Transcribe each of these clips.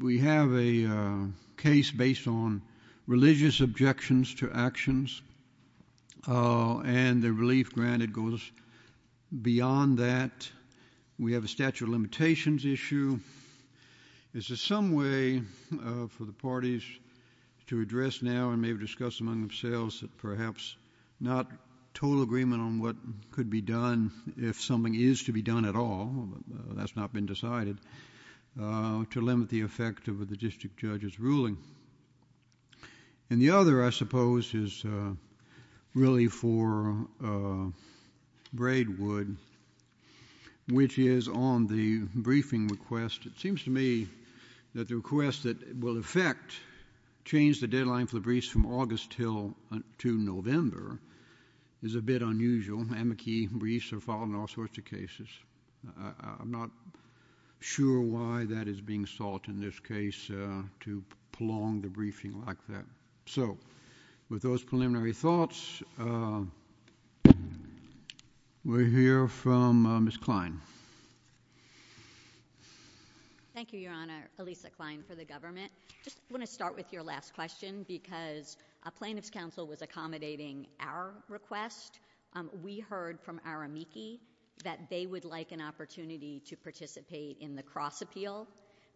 We have a case based on religious objections to actions and the relief granted goes beyond that. We have a statute of limitations issue. Is there some way for the parties to address now and maybe discuss among themselves perhaps not total agreement on what could be done if something is to be done at all? That's not been decided to limit the effect of the district judge's ruling. And the other, I suppose, is really for Braidwood, which is on the briefing request. It seems to me that the request that will affect change the deadline for the briefs from August to November is a bit unusual. Amici briefs are filed in all sorts of cases. I'm not sure why that is being sought in this case to prolong the briefing like that. So with those preliminary thoughts, we'll hear from Ms. Klein. Thank you, Your Honor. Elisa Klein for the government. I just want to start with your last question because a plaintiff's counsel was accommodating our request. We heard from our amici that they would like an opportunity to participate in the cross appeal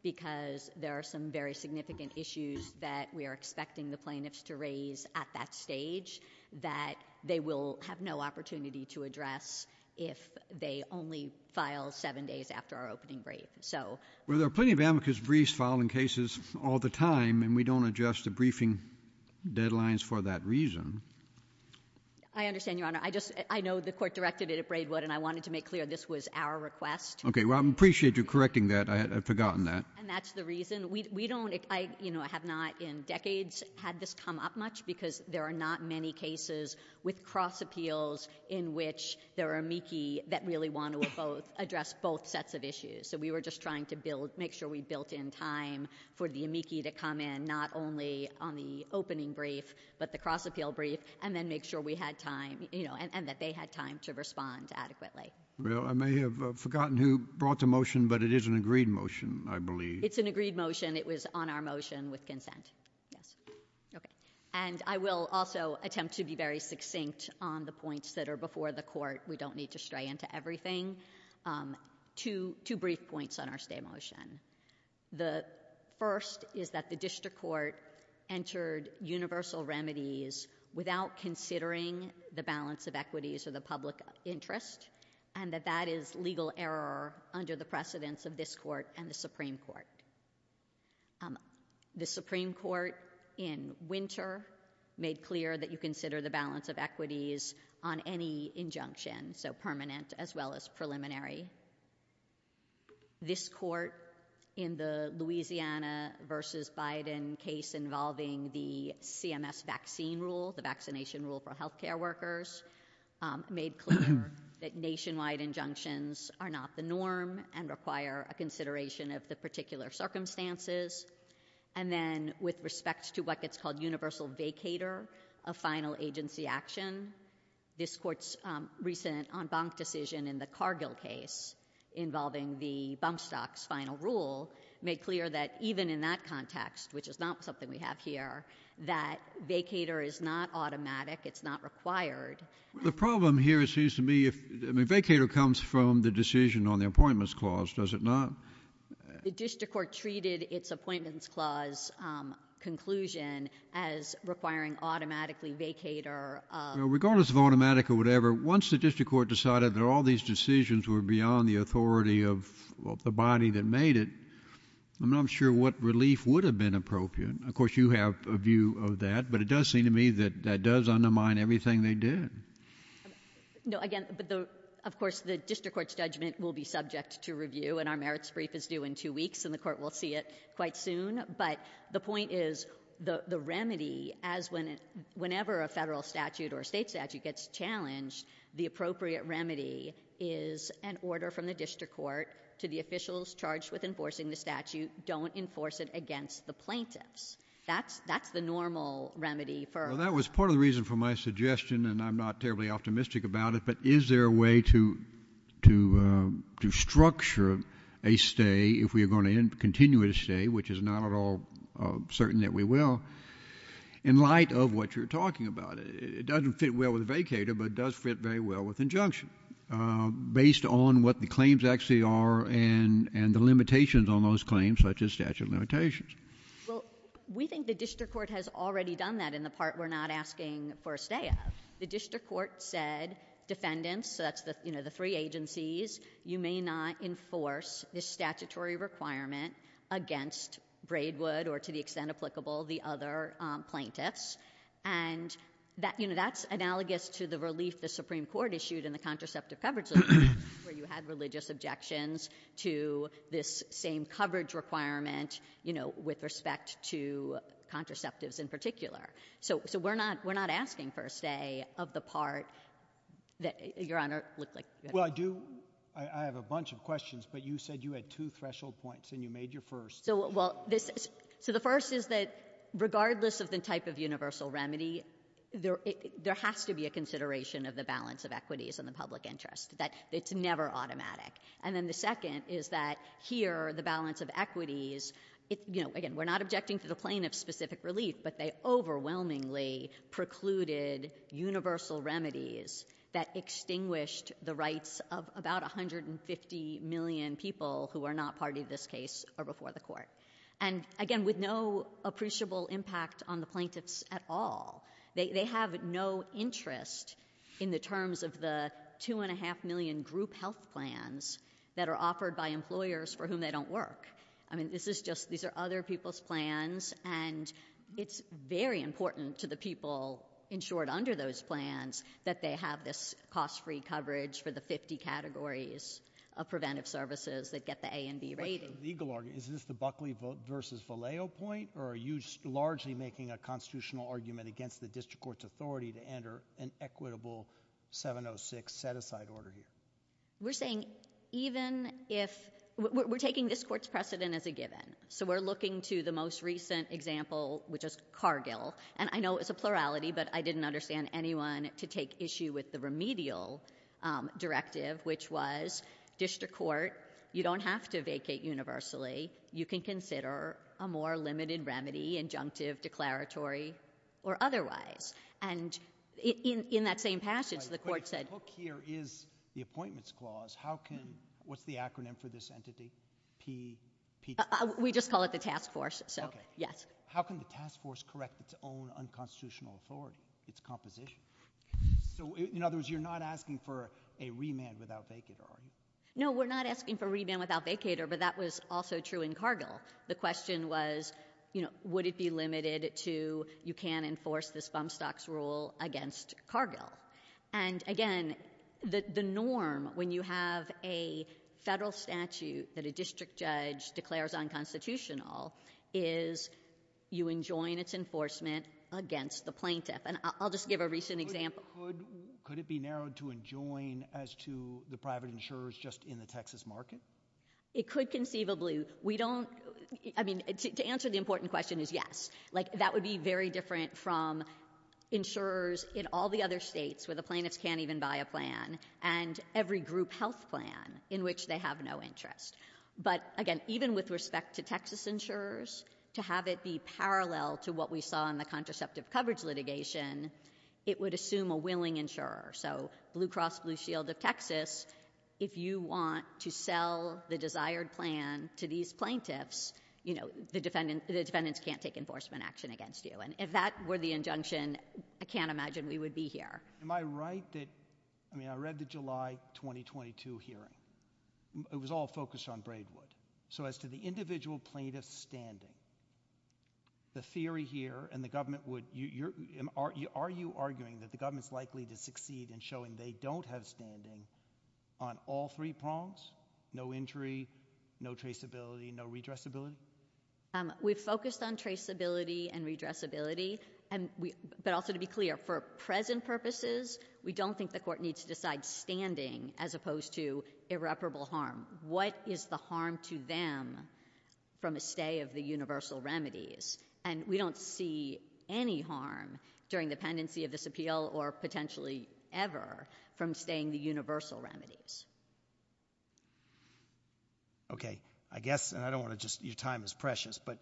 because there are some very significant issues that we are expecting the plaintiffs to raise at that stage that they will have no opportunity to address if they only file seven days after our opening brief. Well, there are plenty of amicus briefs filed in cases all the time, and we don't adjust the briefing deadlines for that reason. I understand, Your Honor. I know the court directed it at Braidwood, and I wanted to make clear this was our request. Okay. Well, I appreciate you correcting that. I had forgotten that. And that's the reason. I have not in decades had this come up much because there are not many cases with cross appeals in which there are amici that really want to address both sets of issues. So we were just trying to make sure we built in time for the amici to come in not only on the opening brief, but the cross appeal brief, and then make sure we had time, you know, and that they had time to respond adequately. Well, I may have forgotten who brought the motion, but it is an agreed motion, I believe. It's an agreed motion. It was on our motion with consent. Yes. Okay. And I will also attempt to be very succinct on the points that are before the court. We don't need to stray into everything. Two brief points on our stay motion. The first is that the district court entered universal remedies without considering the balance of equities or the public interest, and that that is legal error under the precedence of this court and the Supreme Court. The Supreme Court in winter made clear that you consider the balance of equities on any injunction, so permanent as well as preliminary. This court in the Louisiana versus Biden case involving the CMS vaccine rule, the vaccination rule for healthcare workers, made clear that nationwide injunctions are not the norm and require a consideration of the particular circumstances. And then with respect to what gets called universal vacator of final agency action, this court's recent en banc decision in the Cargill case involving the bump stocks final rule made clear that even in that context, which is not something we have here, that vacator is not automatic. It's not required. The problem here seems to me vacator comes from the decision on the appointments clause, does it not? The district court treated its appointments clause conclusion as requiring automatically vacator of Regardless of automatic or whatever, once the district court decided that all these decisions were beyond the authority of the body that made it, I'm not sure what relief would have been appropriate. Of course, you have a view of that, but it does seem to me that that does undermine everything they did. No, again, of course, the district court's judgment will be subject to review, and our merits brief is due in two weeks, and the court will see it quite soon. But the point is the remedy, whenever a federal statute or a state statute gets challenged, the appropriate remedy is an order from the district court to the officials charged with enforcing the statute, don't enforce it against the plaintiffs. That's the normal remedy. Well, that was part of the reason for my suggestion, and I'm not terribly optimistic about it, but is there a way to structure a stay if we are going to continue a stay, which is not at all certain that we will, in light of what you're talking about? It doesn't fit well with a vacator, but it does fit very well with injunction, based on what the claims actually are and the limitations on those claims, such as statute of limitations. Well, we think the district court has already done that in the part we're not asking for a stay of. The district court said, defendants, so that's the three agencies, you may not enforce this statutory requirement against Braidwood or, to the extent applicable, the other plaintiffs. And that's analogous to the relief the Supreme Court issued in the contraceptive coverage law, where you had religious objections to this same coverage requirement with respect to contraceptives in particular. So we're not asking for a stay of the part that, Your Honor, looked like. Well, I have a bunch of questions, but you said you had two threshold points, and you made your first. So the first is that, regardless of the type of universal remedy, there has to be a consideration of the balance of equities and the public interest. It's never automatic. And then the second is that, here, the balance of equities, again, we're not objecting to the plaintiff's specific relief, but they overwhelmingly precluded universal remedies that extinguished the rights of about 150 million people who are not party to this case or before the court. And, again, with no appreciable impact on the plaintiffs at all. They have no interest in the terms of the two and a half million group health plans that are offered by employers for whom they don't work. I mean, this is just, these are other people's plans, and it's very important to the people insured under those plans that they have this cost-free coverage for the 50 categories of preventive services that get the A and B rating. Is this the Buckley versus Vallejo point, or are you largely making a constitutional argument against the district court's authority to enter an equitable 706 set-aside order here? We're saying even if, we're taking this court's precedent as a given. So we're looking to the most recent example, which is Cargill. And I know it's a plurality, but I didn't understand anyone to take issue with the remedial directive, which was district court, you don't have to vacate universally. You can consider a more limited remedy, injunctive, declaratory, or otherwise. And in that same passage, the court said— What's the acronym for this entity? We just call it the task force, so yes. How can the task force correct its own unconstitutional authority, its composition? So in other words, you're not asking for a remand without vacater, are you? No, we're not asking for remand without vacater, but that was also true in Cargill. The question was, would it be limited to you can't enforce this bump stocks rule against Cargill. And again, the norm when you have a federal statute that a district judge declares unconstitutional is you enjoin its enforcement against the plaintiff. And I'll just give a recent example. Could it be narrowed to enjoin as to the private insurers just in the Texas market? It could conceivably. We don't—I mean, to answer the important question is yes. Like, that would be very different from insurers in all the other states where the plaintiffs can't even buy a plan and every group health plan in which they have no interest. But again, even with respect to Texas insurers, to have it be parallel to what we saw in the contraceptive coverage litigation, it would assume a willing insurer. So Blue Cross Blue Shield of Texas, if you want to sell the desired plan to these plaintiffs, you know, the defendants can't take enforcement action against you. And if that were the injunction, I can't imagine we would be here. Am I right that—I mean, I read the July 2022 hearing. It was all focused on Braidwood. So as to the individual plaintiff's standing, the theory here and the government would— are you arguing that the government's likely to succeed in showing they don't have standing on all three prongs? No injury, no traceability, no redressability? We've focused on traceability and redressability. But also to be clear, for present purposes, we don't think the court needs to decide standing as opposed to irreparable harm. What is the harm to them from a stay of the universal remedies? And we don't see any harm during the pendency of this appeal or potentially ever from staying the universal remedies. Okay. I guess—and I don't want to just—your time is precious. But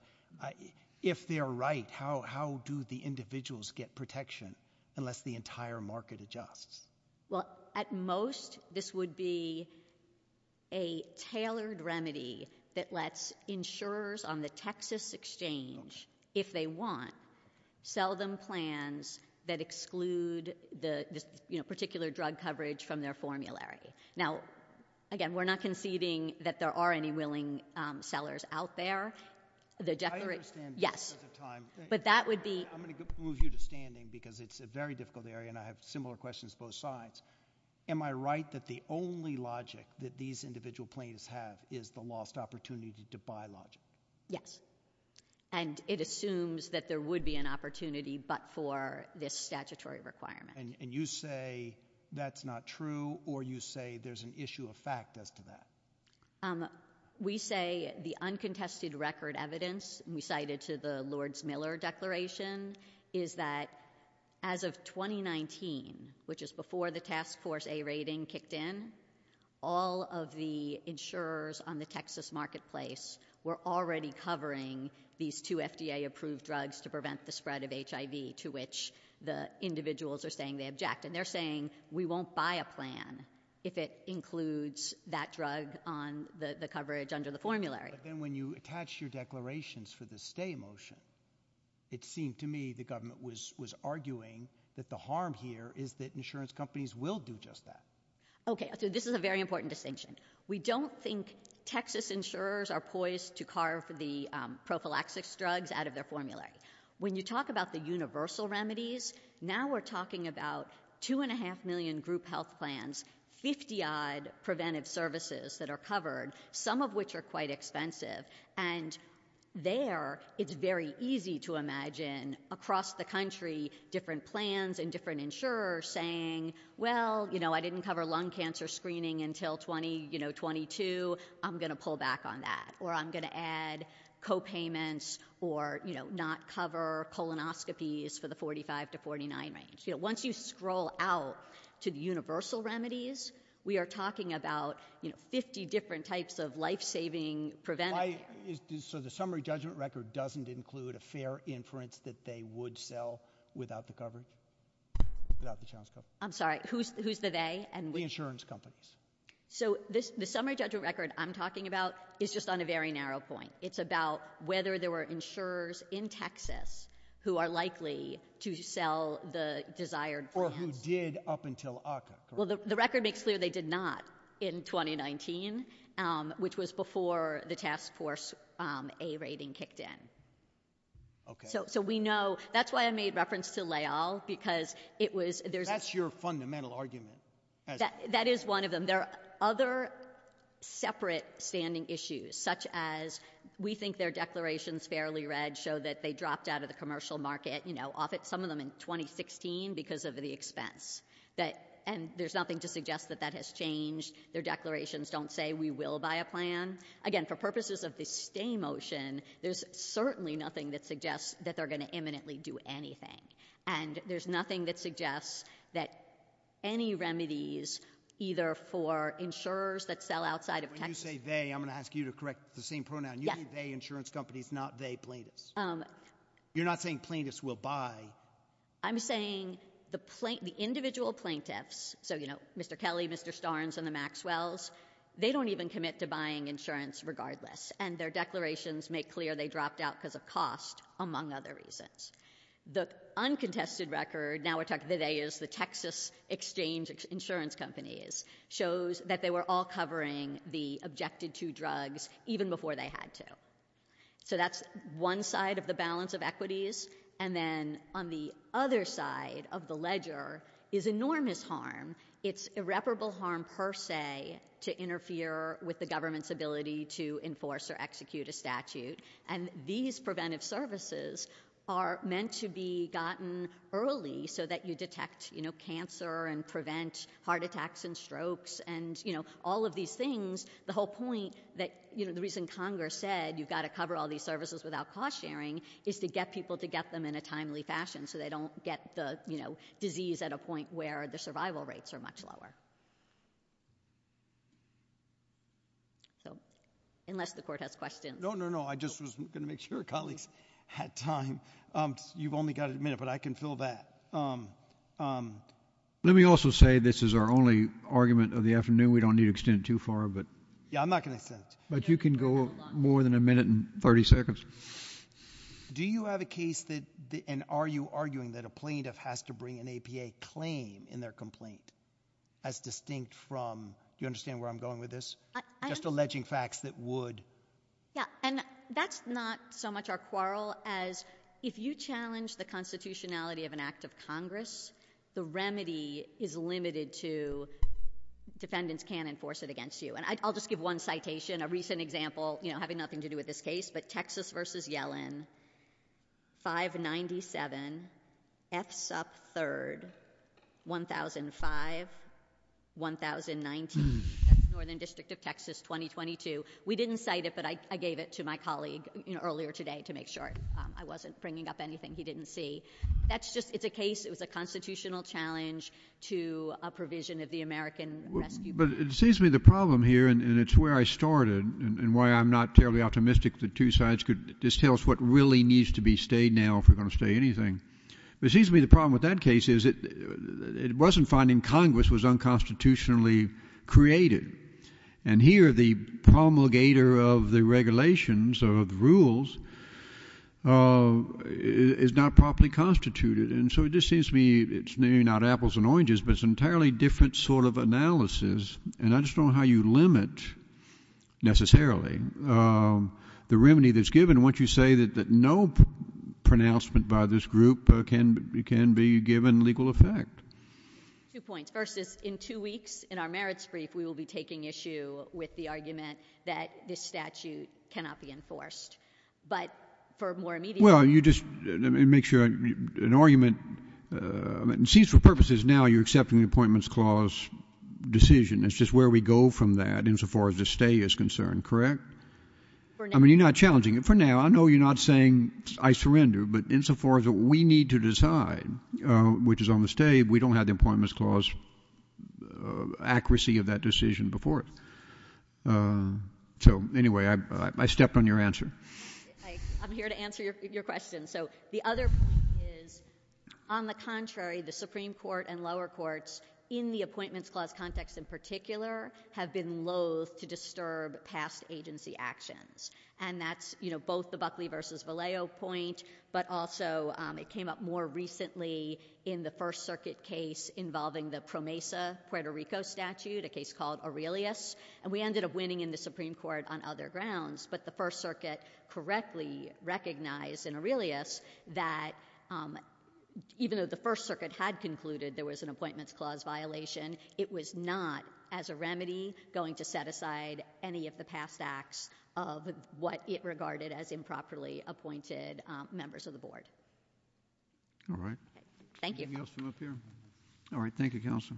if they're right, how do the individuals get protection unless the entire market adjusts? Well, at most, this would be a tailored remedy that lets insurers on the Texas exchange, if they want, sell them plans that exclude the particular drug coverage from their formulary. Now, again, we're not conceding that there are any willing sellers out there. I understand that because of time. Yes. But that would be— I'm going to move you to standing because it's a very difficult area, and I have similar questions both sides. Am I right that the only logic that these individual plaintiffs have is the lost opportunity to buy logic? Yes. And it assumes that there would be an opportunity but for this statutory requirement. And you say that's not true, or you say there's an issue of fact as to that? We say the uncontested record evidence, we cited to the Lords-Miller Declaration, is that as of 2019, which is before the task force A rating kicked in, all of the insurers on the Texas marketplace were already covering these two FDA-approved drugs to prevent the spread of HIV, to which the individuals are saying they object. And they're saying we won't buy a plan if it includes that drug on the coverage under the formulary. But then when you attach your declarations for the stay motion, it seemed to me the government was arguing that the harm here is that insurance companies will do just that. Okay. So this is a very important distinction. We don't think Texas insurers are poised to carve the prophylaxis drugs out of their formulary. When you talk about the universal remedies, now we're talking about 2.5 million group health plans, 50-odd preventive services that are covered, some of which are quite expensive. And there it's very easy to imagine across the country different plans and different insurers saying, well, you know, I didn't cover lung cancer screening until 2022, I'm going to pull back on that. Or I'm going to add copayments or, you know, not cover colonoscopies for the 45 to 49 range. You know, once you scroll out to the universal remedies, we are talking about, you know, 50 different types of life-saving preventive care. So the summary judgment record doesn't include a fair inference that they would sell without the coverage? I'm sorry. Who's the they? The insurance companies. So the summary judgment record I'm talking about is just on a very narrow point. It's about whether there were insurers in Texas who are likely to sell the desired plans. Or who did up until ACCA, correct? Well, the record makes clear they did not in 2019, which was before the task force A rating kicked in. Okay. So we know, that's why I made reference to Layal, because it was, there's a That's your fundamental argument. That is one of them. There are other separate standing issues, such as we think their declarations fairly read show that they dropped out of the commercial market. You know, some of them in 2016 because of the expense. And there's nothing to suggest that that has changed. Their declarations don't say we will buy a plan. Again, for purposes of the stay motion, there's certainly nothing that suggests that they're going to imminently do anything. And there's nothing that suggests that any remedies, either for insurers that sell outside of Texas When you say they, I'm going to ask you to correct the same pronoun. You say they insurance companies, not they plaintiffs. You're not saying plaintiffs will buy. I'm saying the individual plaintiffs, so you know, Mr. Kelly, Mr. Starnes, and the Maxwells, they don't even commit to buying insurance regardless. And their declarations make clear they dropped out because of cost, among other reasons. The uncontested record, now we're talking today is the Texas exchange insurance companies, shows that they were all covering the objected to drugs even before they had to. So that's one side of the balance of equities. And then on the other side of the ledger is enormous harm. It's irreparable harm per se to interfere with the government's ability to enforce or execute a statute. And these preventive services are meant to be gotten early so that you detect, you know, cancer and prevent heart attacks and strokes and, you know, all of these things. The whole point that, you know, the reason Congress said you've got to cover all these services without cost sharing is to get people to get them in a timely fashion so they don't get the, you know, disease at a point where the survival rates are much lower. So unless the court has questions. No, no, no, I just was going to make sure colleagues had time. You've only got a minute, but I can fill that. Let me also say this is our only argument of the afternoon. We don't need to extend it too far, but. Yeah, I'm not going to extend it. But you can go more than a minute and 30 seconds. Do you have a case that, and are you arguing that a plaintiff has to bring an APA claim in their complaint as distinct from, do you understand where I'm going with this? Just alleging facts that would. Yeah, and that's not so much our quarrel as if you challenge the constitutionality of an act of Congress, the remedy is limited to defendants can enforce it against you. And I'll just give one citation, a recent example, you know, having nothing to do with this case, but Texas versus Yellen. Five ninety seven. F's up third. One thousand five. One thousand nineteen. Northern District of Texas. Twenty twenty two. We didn't cite it, but I gave it to my colleague earlier today to make sure I wasn't bringing up anything he didn't see. That's just it's a case. It was a constitutional challenge to a provision of the American rescue. But it seems to me the problem here and it's where I started and why I'm not terribly optimistic the two sides could just tell us what really needs to be stayed now if we're going to stay anything. But it seems to me the problem with that case is it wasn't finding Congress was unconstitutionally created. And here the promulgator of the regulations or the rules is not properly constituted. And so it just seems to me it's not apples and oranges, but it's entirely different sort of analysis. And I just don't know how you limit necessarily the remedy that's given once you say that no pronouncement by this group can be given legal effect. Two points. First is in two weeks in our merits brief we will be taking issue with the argument that this statute cannot be enforced. But for more immediate. Well, you just make sure an argument seems for purposes. Now you're accepting the appointments clause decision. It's just where we go from that insofar as the stay is concerned. Correct. I mean, you're not challenging it for now. I know you're not saying I surrender. But insofar as we need to decide, which is on the state, we don't have the appointments clause accuracy of that decision before. So anyway, I stepped on your answer. I'm here to answer your question. So the other is on the contrary, the Supreme Court and lower courts in the appointments clause context in particular have been loath to disturb past agency actions. And that's both the Buckley versus Vallejo point. But also it came up more recently in the First Circuit case involving the PROMESA Puerto Rico statute, a case called Aurelius. And we ended up winning in the Supreme Court on other grounds. But the First Circuit correctly recognized in Aurelius that even though the First Circuit had concluded there was an appointments clause violation, it was not as a remedy going to set aside any of the past acts of what it regarded as improperly appointed members of the board. All right. Thank you. Anything else from up here? All right. Thank you, Counsel.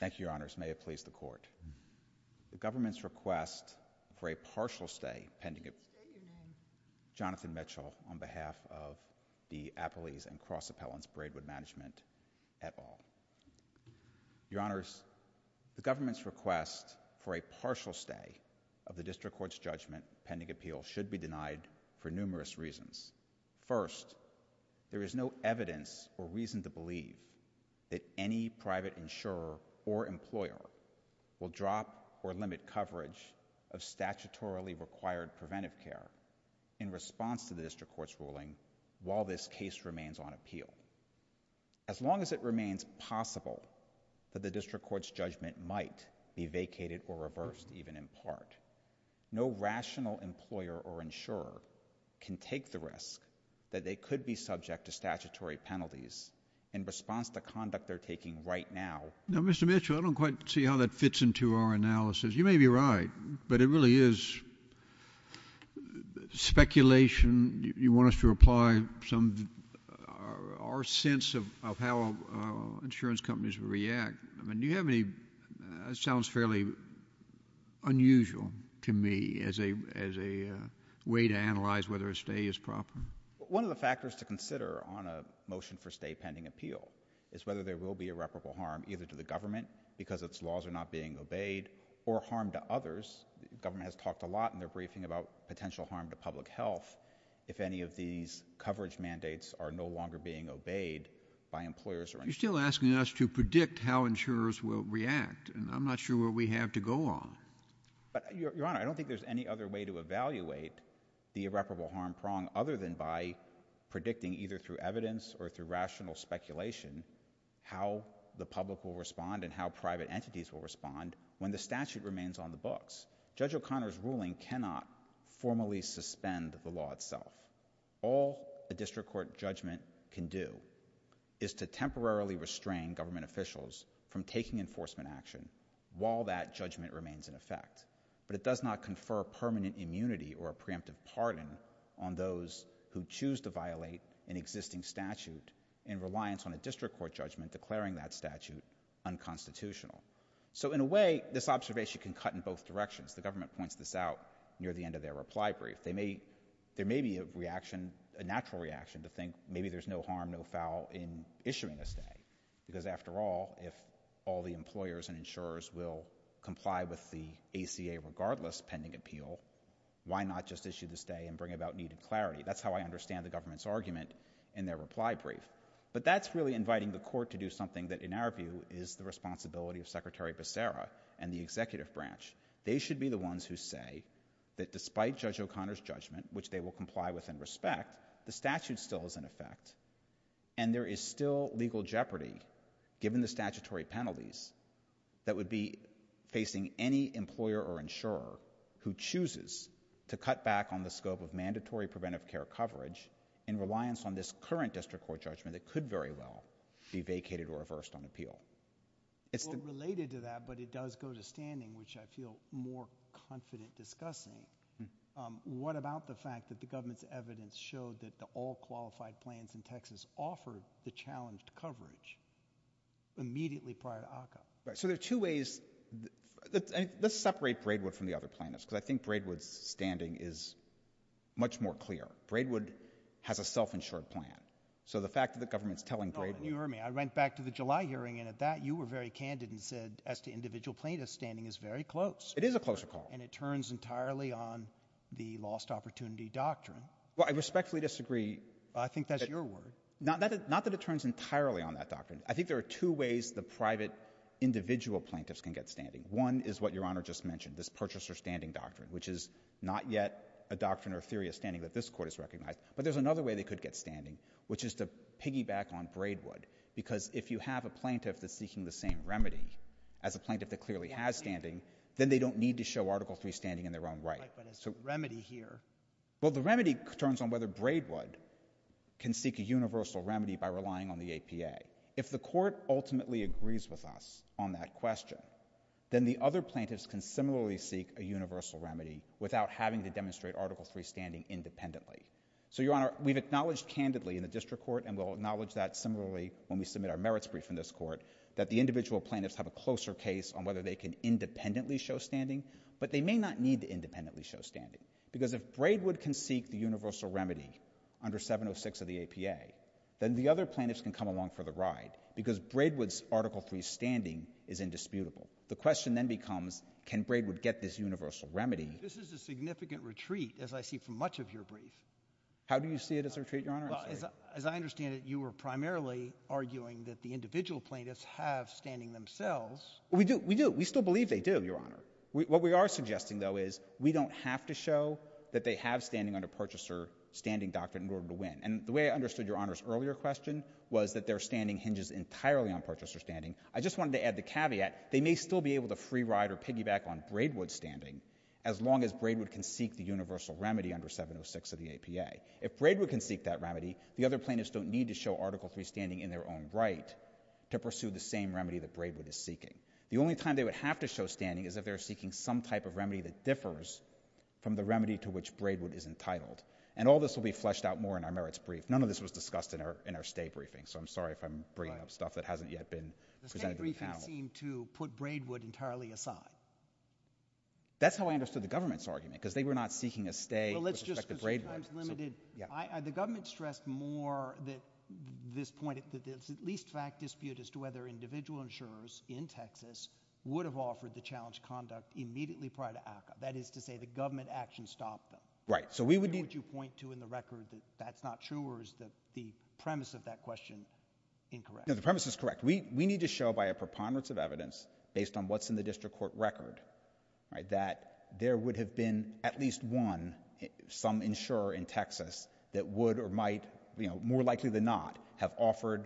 Thank you, Your Honors. May it please the Court. The government's request for a partial stay pending appeal. Jonathan Mitchell on behalf of the Appellees and Cross Appellants Braidwood Management et al. Your Honors, the government's request for a partial stay of the district court's judgment pending appeal should be denied for numerous reasons. First, there is no evidence or reason to believe that any private insurer or employer will drop or limit coverage of statutorily required preventive care in response to the district court's ruling while this case remains on appeal. As long as it remains possible that the district court's judgment might be vacated or reversed even in part, no rational employer or insurer can take the risk that they could be subject to statutory penalties in response to conduct they're taking right now. Now, Mr. Mitchell, I don't quite see how that fits into our analysis. You may be right, but it really is speculation. You want us to apply our sense of how insurance companies will react. That sounds fairly unusual to me as a way to analyze whether a stay is proper. One of the factors to consider on a motion for stay pending appeal is whether there will be irreparable harm either to the government because its laws are not being obeyed or harm to others. The government has talked a lot in their briefing about potential harm to public health if any of these coverage mandates are no longer being obeyed by employers or insurers. You're still asking us to predict how insurers will react, and I'm not sure what we have to go on. Your Honor, I don't think there's any other way to evaluate the irreparable harm prong other than by predicting either through evidence or through rational speculation how the public will respond and how private entities will respond when the statute remains on the books. Judge O'Connor's ruling cannot formally suspend the law itself. All a district court judgment can do is to temporarily restrain government officials from taking enforcement action while that judgment remains in effect, but it does not confer permanent immunity or a preemptive pardon on those who choose to violate an existing statute in reliance on a district court judgment declaring that statute unconstitutional. So in a way, this observation can cut in both directions. The government points this out near the end of their reply brief. There may be a natural reaction to think maybe there's no harm, no foul in issuing a stay because after all, if all the employers and insurers will comply with the ACA regardless pending appeal, why not just issue the stay and bring about needed clarity? That's how I understand the government's argument in their reply brief. But that's really inviting the court to do something that in our view is the responsibility of Secretary Becerra and the executive branch. They should be the ones who say that despite Judge O'Connor's judgment, which they will comply with and respect, the statute still is in effect and there is still legal jeopardy given the statutory penalties that would be facing any employer or insurer who chooses to cut back on the scope of mandatory preventive care coverage in reliance on this current district court judgment that could very well be vacated or reversed on appeal. Related to that, but it does go to standing, which I feel more confident discussing. What about the fact that the government's evidence showed that the all qualified plans in Texas offered the challenged coverage immediately prior to ACA? So there are two ways. Let's separate Braidwood from the other plaintiffs because I think Braidwood's standing is much more clear. Braidwood has a self-insured plan. So the fact that the government's telling Braidwood. You heard me. I went back to the July hearing and at that you were very candid and said as to individual plaintiffs standing is very close. It is a closer call. And it turns entirely on the lost opportunity doctrine. Well, I respectfully disagree. I think that's your word. Not that it turns entirely on that doctrine. I think there are two ways the private individual plaintiffs can get standing. One is what Your Honor just mentioned, this purchaser standing doctrine, which is not yet a doctrine or theory of standing that this court has recognized. But there's another way they could get standing, which is to piggyback on Braidwood because if you have a plaintiff that's seeking the same remedy as a plaintiff that clearly has standing, then they don't need to show Article III standing in their own right. But it's a remedy here. Well, the remedy turns on whether Braidwood can seek a universal remedy by relying on the APA. If the court ultimately agrees with us on that question, then the other plaintiffs can similarly seek a universal remedy without having to demonstrate Article III standing independently. So, Your Honor, we've acknowledged candidly in the district court and we'll acknowledge that similarly when we submit our merits brief in this court, that the individual plaintiffs have a closer case on whether they can independently show standing, but they may not need to independently show standing because if Braidwood can seek the universal remedy under 706 of the APA, then the other plaintiffs can come along for the ride because Braidwood's Article III standing is indisputable. The question then becomes, can Braidwood get this universal remedy? This is a significant retreat, as I see from much of your brief. How do you see it as a retreat, Your Honor? As I understand it, you were primarily arguing that the individual plaintiffs have standing themselves. We do. We do. We still believe they do, Your Honor. What we are suggesting, though, is we don't have to show that they have standing under Purchaser Standing Doctrine in order to win. And the way I understood Your Honor's earlier question was that their standing hinges entirely on Purchaser Standing. I just wanted to add the caveat, they may still be able to free ride or piggyback on Braidwood's standing as long as Braidwood can seek the universal remedy under 706 of the APA. If Braidwood can seek that remedy, the other plaintiffs don't need to show Article III standing in their own right to pursue the same remedy that Braidwood is seeking. The only time they would have to show standing is if they're seeking some type of remedy that differs from the remedy to which Braidwood is entitled. And all this will be fleshed out more in our Merits Brief. None of this was discussed in our State Briefing, so I'm sorry if I'm bringing up stuff that hasn't yet been presented to the panel. The State Briefing seemed to put Braidwood entirely aside. That's how I understood the government's argument, because they were not seeking a stay with respect to Braidwood. The government stressed more this point, at least fact dispute, as to whether individual insurers in Texas would have offered the challenge conduct immediately prior to ACCA. That is to say, the government action stopped them. Where would you point to in the record that that's not true, or is the premise of that question incorrect? No, the premise is correct. We need to show by a preponderance of evidence, based on what's in the district court record, that there would have been at least one, some insurer in Texas, that would or might, more likely than not, have offered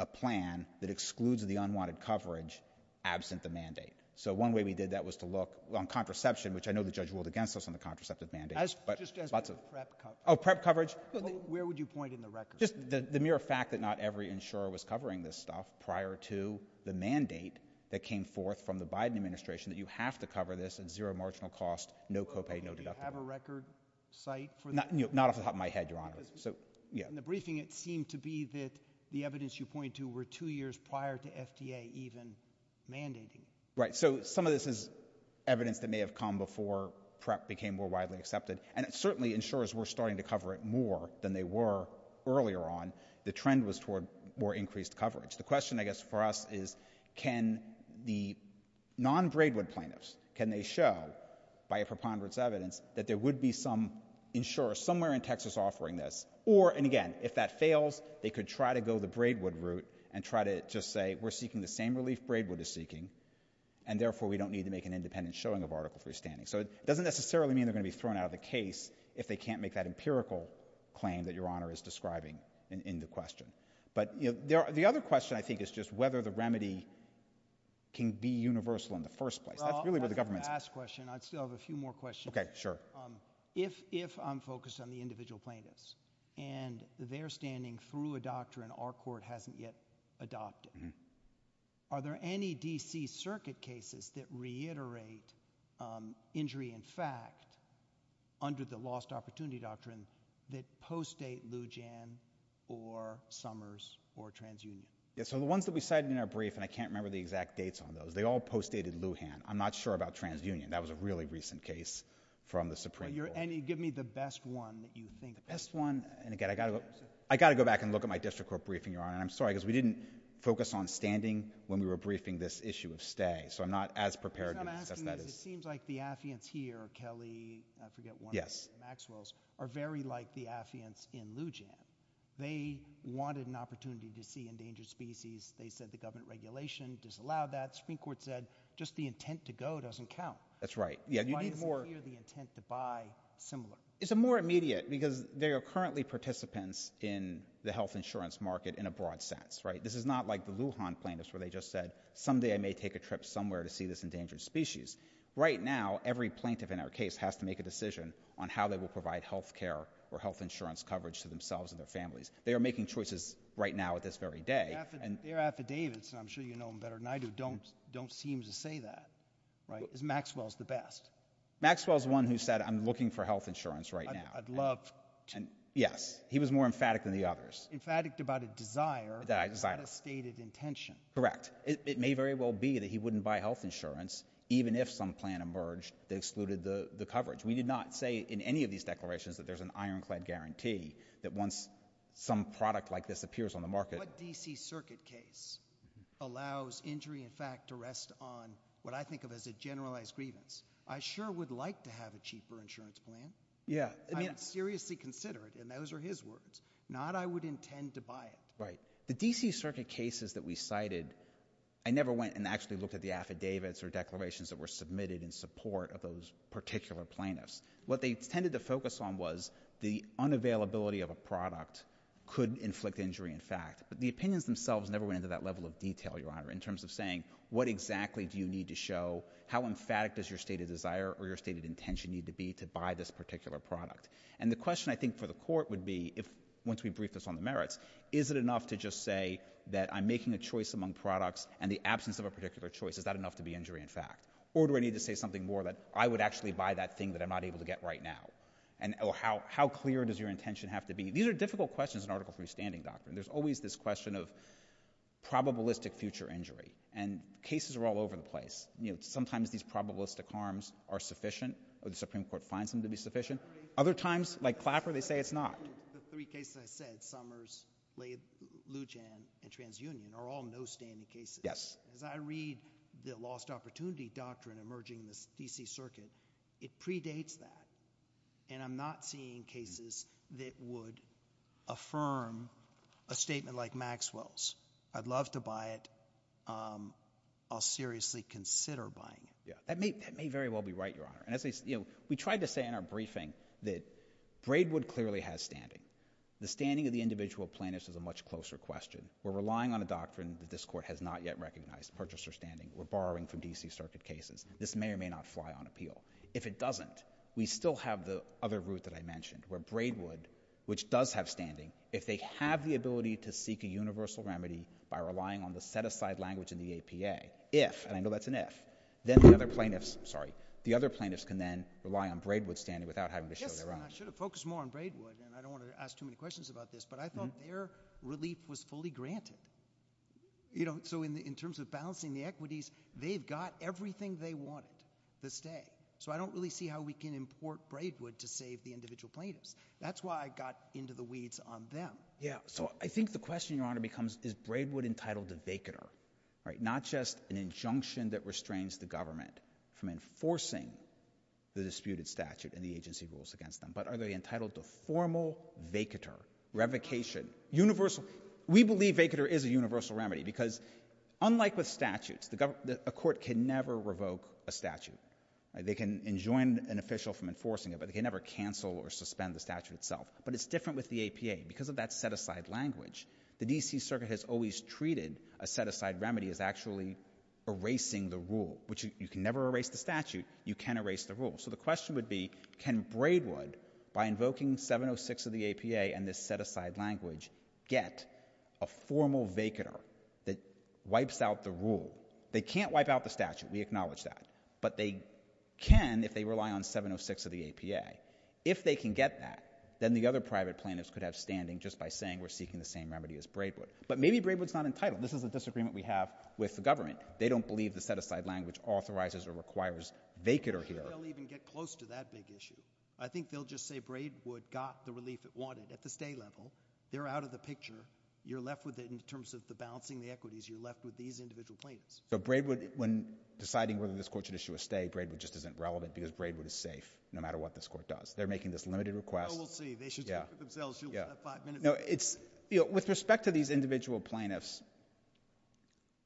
a plan that excludes the unwanted coverage absent the mandate. So one way we did that was to look on contraception, which I know the judge ruled against us on the contraceptive mandate. Just as with prep coverage. Oh, prep coverage. Where would you point in the record? Just the mere fact that not every insurer was covering this stuff prior to the mandate that came forth from the Biden administration, that you have to cover this at zero marginal cost, no copay, no deductible. Do you have a record site for that? Not off the top of my head, Your Honor. In the briefing, it seemed to be that the evidence you point to were two years prior to FDA even mandating it. Right. So some of this is evidence that may have come before prep became more widely accepted. And certainly insurers were starting to cover it more than they were earlier on. The trend was toward more increased coverage. The question, I guess, for us is can the non-Braidwood plaintiffs, can they show by a preponderance of evidence, that there would be some insurer somewhere in Texas offering this? Or, and again, if that fails, they could try to go the Braidwood route and try to just say, we're seeking the same relief Braidwood is seeking, and therefore we don't need to make an independent showing of article 3 standing. So it doesn't necessarily mean they're going to be thrown out of the case if they can't make that empirical claim that Your Honor is describing in the question. But the other question, I think, is just whether the remedy can be universal in the first place. That's really where the government's— Well, that's the last question. I still have a few more questions. Okay, sure. If I'm focused on the individual plaintiffs, and they're standing through a doctrine our court hasn't yet adopted, are there any D.C. circuit cases that reiterate injury in fact, under the lost opportunity doctrine, that post-date Lujan or Summers or TransUnion? Yeah, so the ones that we cited in our brief, and I can't remember the exact dates on those, they all post-dated Lujan. I'm not sure about TransUnion. That was a really recent case from the Supreme Court. Give me the best one that you think of. The best one, and again, I've got to go back and look at my district court briefing, Your Honor. I'm sorry, because we didn't focus on standing when we were briefing this issue of stay, so I'm not as prepared to discuss that. What I'm asking is, it seems like the affiants here, Kelly, I forget one name, Maxwells, are very like the affiants in Lujan. They wanted an opportunity to see endangered species. They said the government regulation disallowed that. The Supreme Court said just the intent to go doesn't count. That's right. Why isn't here the intent to buy similar? It's a more immediate, because they are currently participants in the health insurance market in a broad sense. This is not like the Lujan plaintiffs where they just said, someday I may take a trip somewhere to see this endangered species. Right now, every plaintiff in our case has to make a decision on how they will provide health care or health insurance coverage to themselves and their families. They are making choices right now at this very day. Their affidavits, and I'm sure you know them better than I do, don't seem to say that. Is Maxwells the best? Maxwells is one who said, I'm looking for health insurance right now. I'd love to. Yes. He was more emphatic than the others. Emphatic about a desire. That I desire. Not a stated intention. Correct. It may very well be that he wouldn't buy health insurance, even if some plan emerged that excluded the coverage. We did not say in any of these declarations that there's an ironclad guarantee that once some product like this appears on the market. What D.C. Circuit case allows injury in fact to rest on what I think of as a generalized grievance? I sure would like to have a cheaper insurance plan. Yeah. I mean, seriously consider it. And those are his words. Not I would intend to buy it. Right. The D.C. Circuit cases that we cited, I never went and actually looked at the affidavits or declarations that were submitted in support of those particular plaintiffs. What they tended to focus on was the unavailability of a product could inflict injury in fact. But the opinions themselves never went into that level of detail, Your Honor, in terms of saying what exactly do you need to show? How emphatic does your stated desire or your stated intention need to be to buy this particular product? And the question I think for the Court would be, once we brief this on the merits, is it enough to just say that I'm making a choice among products and the absence of a particular choice, is that enough to be injury in fact? Or do I need to say something more that I would actually buy that thing that I'm not able to get right now? And how clear does your intention have to be? These are difficult questions in Article III standing doctrine. There's always this question of probabilistic future injury. And cases are all over the place. Sometimes these probabilistic harms are sufficient, or the Supreme Court finds them to be sufficient. Other times, like Clapper, they say it's not. The three cases I said, Summers, Lujan, and TransUnion, are all no-standard cases. Yes. As I read the lost opportunity doctrine emerging in the D.C. Circuit, it predates that. And I'm not seeing cases that would affirm a statement like Maxwell's. I'd love to buy it. I'll seriously consider buying it. That may very well be right, Your Honor. We tried to say in our briefing that Braidwood clearly has standing. The standing of the individual plaintiffs is a much closer question. We're relying on a doctrine that this Court has not yet recognized, purchaser standing. We're borrowing from D.C. Circuit cases. This may or may not fly on appeal. If it doesn't, we still have the other route that I mentioned, where Braidwood, which does have standing, if they have the ability to seek a universal remedy by relying on the set-aside language in the APA, if, and I know that's an if, then the other plaintiffs can then rely on Braidwood's standing without having to show their eyes. Yes, Your Honor. I should have focused more on Braidwood, and I don't want to ask too many questions about this. But I thought their relief was fully granted. You know, so in terms of balancing the equities, they've got everything they wanted to stay. So I don't really see how we can import Braidwood to save the individual plaintiffs. That's why I got into the weeds on them. Yeah, so I think the question, Your Honor, becomes is Braidwood entitled to vacatur, right, not just an injunction that restrains the government from enforcing the disputed statute and the agency rules against them, but are they entitled to formal vacatur, revocation, universal? We believe vacatur is a universal remedy because, unlike with statutes, a court can never revoke a statute. They can enjoin an official from enforcing it, but they can never cancel or suspend the statute itself. But it's different with the APA. Because of that set-aside language, the D.C. Circuit has always treated a set-aside remedy as actually erasing the rule, which you can never erase the statute. You can erase the rule. So the question would be can Braidwood, by invoking 706 of the APA and this set-aside language, get a formal vacatur that wipes out the rule? They can't wipe out the statute. We acknowledge that. But they can if they rely on 706 of the APA. If they can get that, then the other private plaintiffs could have standing just by saying we're seeking the same remedy as Braidwood. But maybe Braidwood's not entitled. This is a disagreement we have with the government. They don't believe the set-aside language authorizes or requires vacatur here. I don't think they'll even get close to that big issue. I think they'll just say Braidwood got the relief it wanted at the stay level. They're out of the picture. You're left with it in terms of the balancing the equities. You're left with these individual plaintiffs. So Braidwood, when deciding whether this court should issue a stay, Braidwood just isn't relevant because Braidwood is safe no matter what this court does. They're making this limited request. Oh, we'll see. They should speak for themselves. You'll have five minutes. With respect to these individual plaintiffs,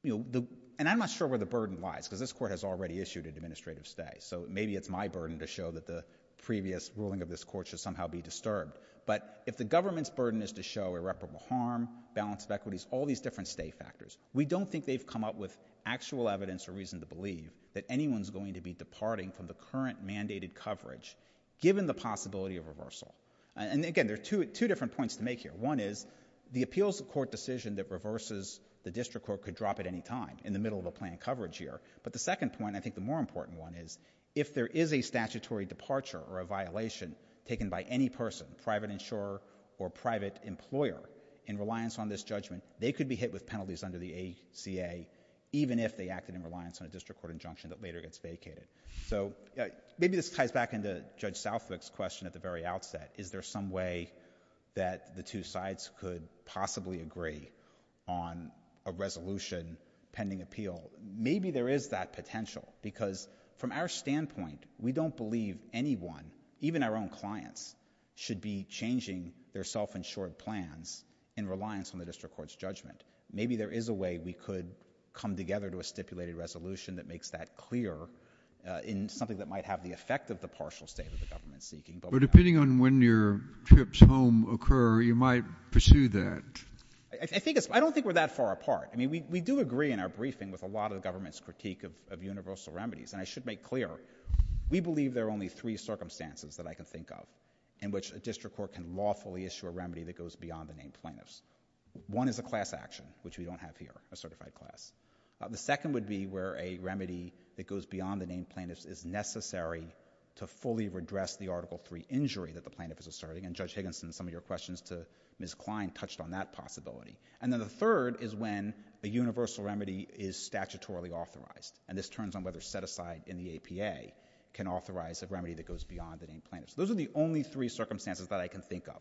and I'm not sure where the burden lies because this court has already issued an administrative stay, so maybe it's my burden to show that the previous ruling of this court should somehow be disturbed. But if the government's burden is to show irreparable harm, balance of equities, all these different stay factors, we don't think they've come up with actual evidence or reason to believe that anyone's going to be departing from the current mandated coverage given the possibility of reversal. And again, there are two different points to make here. One is the appeals court decision that reverses the district court could drop at any time in the middle of a planned coverage year. But the second point, and I think the more important one, is if there is a statutory departure or a violation taken by any person, private insurer or private employer, in reliance on this judgment, they could be hit with penalties under the ACA, even if they acted in reliance on a district court injunction that later gets vacated. So maybe this ties back into Judge Southwick's question at the very outset. Is there some way that the two sides could possibly agree on a resolution pending appeal? Maybe there is that potential because from our standpoint, we don't believe anyone, even our own clients, should be changing their self-insured plans in reliance on the district court's judgment. Maybe there is a way we could come together to a stipulated resolution that makes that clear in something that might have the effect of the partial state of the government seeking. But depending on when your trips home occur, you might pursue that. I don't think we're that far apart. I mean, we do agree in our briefing with a lot of the government's critique of universal remedies, and I should make clear we believe there are only three circumstances that I can think of in which a district court can lawfully issue a remedy that goes beyond the named plaintiffs. One is a class action, which we don't have here, a certified class. The second would be where a remedy that goes beyond the named plaintiffs is necessary to fully redress the Article III injury that the plaintiff is asserting, and Judge Higginson, in some of your questions to Ms. Klein, touched on that possibility. And then the third is when a universal remedy is statutorily authorized, and this turns on whether set-aside in the APA can authorize a remedy that goes beyond the named plaintiffs. Those are the only three circumstances that I can think of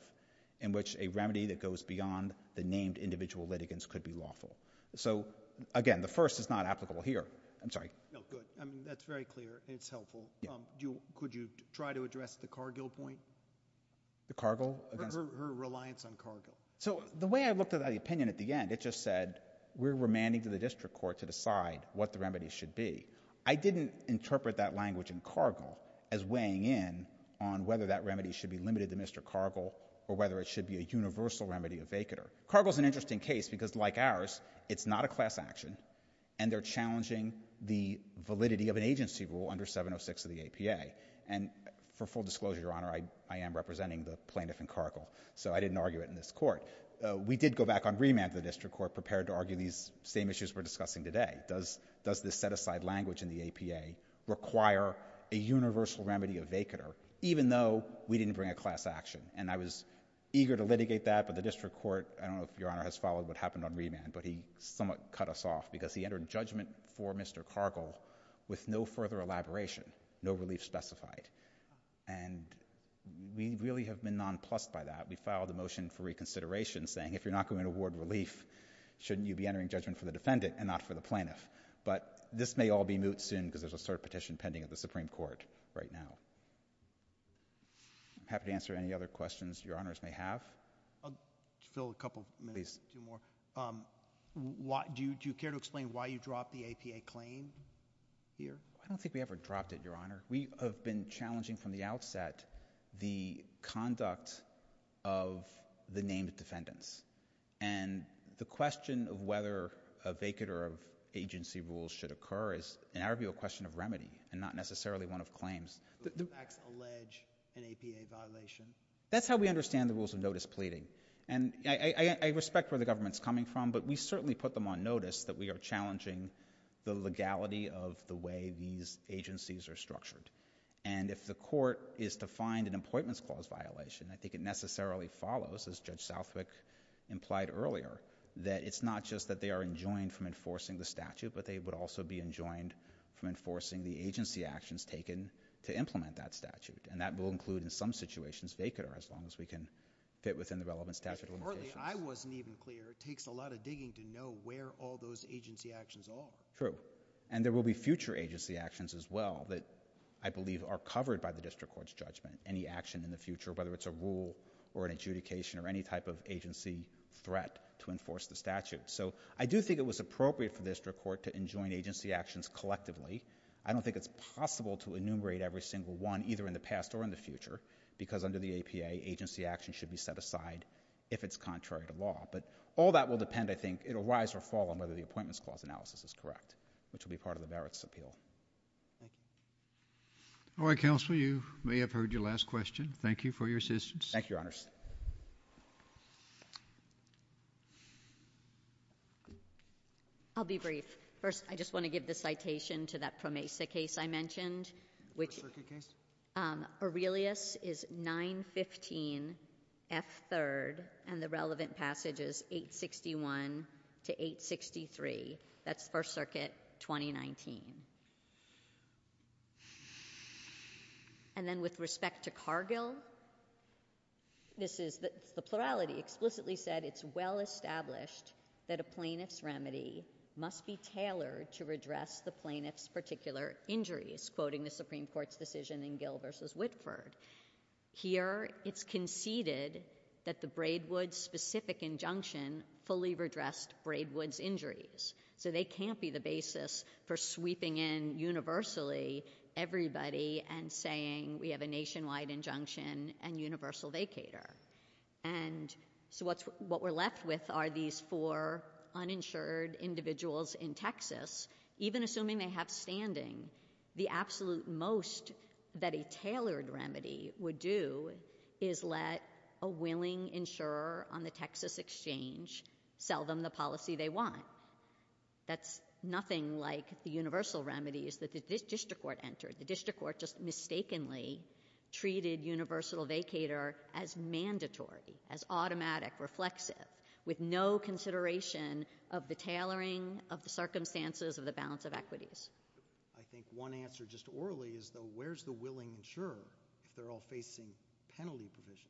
in which a remedy that goes beyond the named individual litigants could be lawful. So, again, the first is not applicable here. I'm sorry. No, good. That's very clear, and it's helpful. Could you try to address the Cargill point? The Cargill? Her reliance on Cargill. So the way I looked at the opinion at the end, it just said we're remanding to the district court to decide what the remedy should be. I didn't interpret that language in Cargill as weighing in on whether that remedy should be limited to Mr. Cargill or whether it should be a universal remedy of vacatur. Cargill's an interesting case because, like ours, it's not a class action, and they're challenging the validity of an agency rule under 706 of the APA. And for full disclosure, Your Honor, I am representing the plaintiff in Cargill, so I didn't argue it in this court. We did go back on remand to the district court prepared to argue these same issues we're discussing today. Does this set-aside language in the APA require a universal remedy of vacatur, even though we didn't bring a class action? And I was eager to litigate that, but the district court, I don't know if Your Honor has followed what happened on remand, but he somewhat cut us off because he entered judgment for Mr. Cargill with no further elaboration, no relief specified. And we really have been nonplussed by that. We filed a motion for reconsideration saying if you're not going to award relief, shouldn't you be entering judgment for the defendant and not for the plaintiff? But this may all be moot soon because there's a cert petition pending at the Supreme Court right now. I'm happy to answer any other questions Your Honors may have. I'll fill a couple more. Do you care to explain why you dropped the APA claim here? I don't think we ever dropped it, Your Honor. We have been challenging from the outset the conduct of the named defendants. And the question of whether a vacatur of agency rules should occur is in our view a question of remedy and not necessarily one of claims. Do the facts allege an APA violation? That's how we understand the rules of notice pleading. And I respect where the government's coming from, but we certainly put them on notice that we are challenging the legality of the way these agencies are structured. And if the court is to find an appointments clause violation, I think it necessarily follows, as Judge Southwick implied earlier, that it's not just that they are enjoined from enforcing the statute, but they would also be enjoined from enforcing the agency actions taken to implement that statute. And that will include in some situations vacatur as long as we can fit within the relevant statute of limitations. If early, I wasn't even clear. It takes a lot of digging to know where all those agency actions are. True. And there will be future agency actions as well that I believe are covered by the district court's judgment, any action in the future, whether it's a rule or an adjudication or any type of agency threat to enforce the statute. So I do think it was appropriate for the district court to enjoin agency actions collectively. I don't think it's possible to enumerate every single one either in the past or in the future because under the APA, agency actions should be set aside if it's contrary to law. But all that will depend, I think, it'll rise or fall on whether the appointments clause analysis is correct, which will be part of the Barrett's appeal. Thank you. All right, Counselor, you may have heard your last question. Thank you for your assistance. Thank you, Your Honors. I'll be brief. First, I just want to give the citation to that PROMESA case I mentioned. First Circuit case? Aurelius is 915F3rd, and the relevant passage is 861-863. That's First Circuit 2019. And then with respect to Cargill, this is the plurality explicitly said, it's well established that a plaintiff's remedy must be tailored to redress the plaintiff's particular injuries, quoting the Supreme Court's decision in Gill v. Whitford. Here, it's conceded that the Braidwood specific injunction fully redressed Braidwood's injuries. So they can't be the basis for sweeping in universally everybody and saying we have a nationwide injunction and universal vacator. And so what we're left with are these four uninsured individuals in Texas. Even assuming they have standing, the absolute most that a tailored remedy would do is let a willing insurer on the Texas exchange sell them the policy they want. That's nothing like the universal remedies that the district court entered. The district court just mistakenly treated universal vacator as mandatory, as automatic, reflexive, with no consideration of the tailoring, of the circumstances of the balance of equities. I think one answer just orally is, though, where's the willing insurer if they're all facing penalty provision?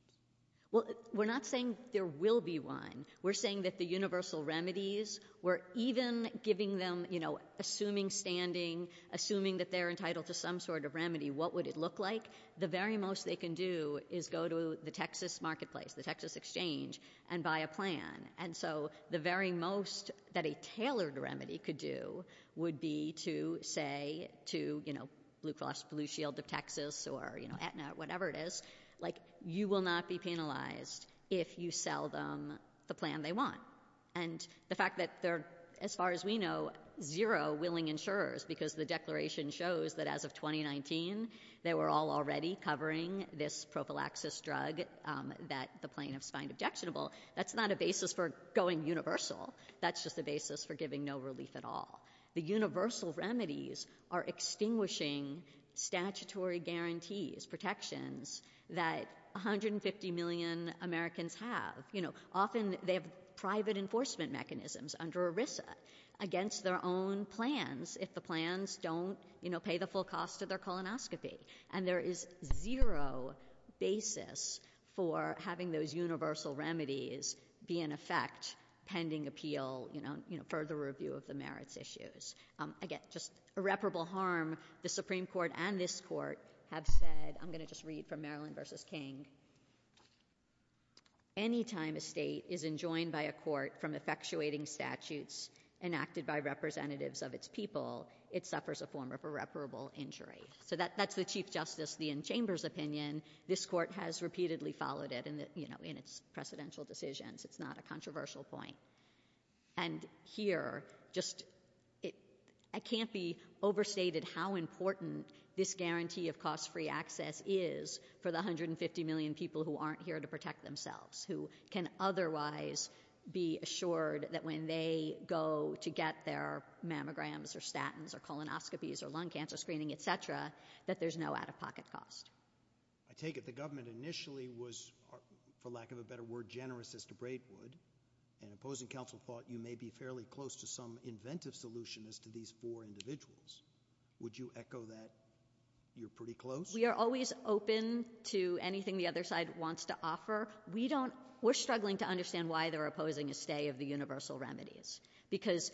Well, we're not saying there will be one. We're saying that the universal remedies, we're even giving them, you know, assuming standing, assuming that they're entitled to some sort of remedy, what would it look like? The very most they can do is go to the Texas marketplace, the Texas exchange, and buy a plan. And so the very most that a tailored remedy could do would be to say to, you know, Blue Cross Blue Shield of Texas or, you know, Aetna, whatever it is, like, you will not be penalized if you sell them the plan they want. And the fact that they're, as far as we know, zero willing insurers because the declaration shows that as of 2019 they were all already covering this prophylaxis drug that the plaintiffs find objectionable, that's not a basis for going universal. That's just a basis for giving no relief at all. The universal remedies are extinguishing statutory guarantees, protections, that 150 million Americans have. You know, often they have private enforcement mechanisms under ERISA against their own plans if the plans don't, you know, pay the full cost of their colonoscopy. And there is zero basis for having those universal remedies be in effect pending appeal, you know, further review of the merits issues. Again, just irreparable harm. The Supreme Court and this court have said... I'm going to just read from Maryland v. King. Any time a state is enjoined by a court from effectuating statutes enacted by representatives of its people, it suffers a form of irreparable injury. So that's the Chief Justice, the in-chamber's opinion. This court has repeatedly followed it in its precedential decisions. It's not a controversial point. And here, just... I can't be overstated how important this guarantee of cost-free access is for the 150 million people who aren't here to protect themselves, who can otherwise be assured that when they go to get their mammograms or statins or colonoscopies or lung cancer screening, etc., that there's no out-of-pocket cost. I take it the government initially was, for lack of a better word, generous as DeBrade would, and opposing counsel thought you may be fairly close to some inventive solution as to these four individuals. Would you echo that you're pretty close? We are always open to anything the other side wants to offer. We don't... We're struggling to understand why they're opposing a stay of the universal remedies. Because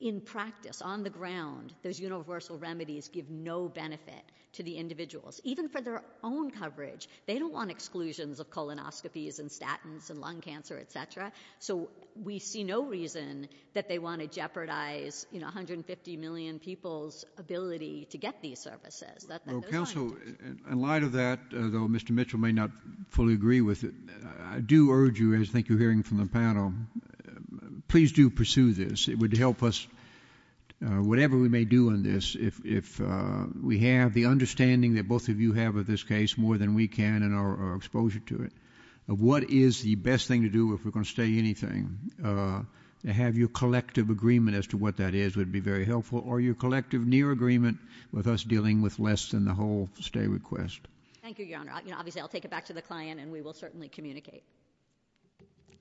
in practice, on the ground, those universal remedies give no benefit to the individuals, even for their own coverage. They don't want exclusions of colonoscopies and statins and lung cancer, etc. So we see no reason that they want to jeopardize, you know, 150 million people's ability to get these services. Well, counsel, in light of that, though Mr Mitchell may not fully agree with it, I do urge you, as I think you're hearing from the panel, please do pursue this. It would help us, whatever we may do on this, if we have the understanding that both of you have of this case more than we can in our exposure to it, of what is the best thing to do if we're going to stay anything. To have your collective agreement as to what that is would be very helpful, or your collective near agreement with us dealing with less than the whole stay request. Thank you, Your Honour. Obviously I'll take it back to the client, and we will certainly communicate.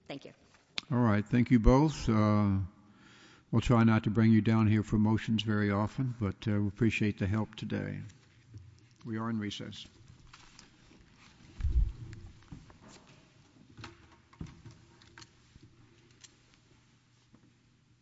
Thank you. All right, thank you both. We'll try not to bring you down here for motions very often, but we appreciate the help today. We are in recess.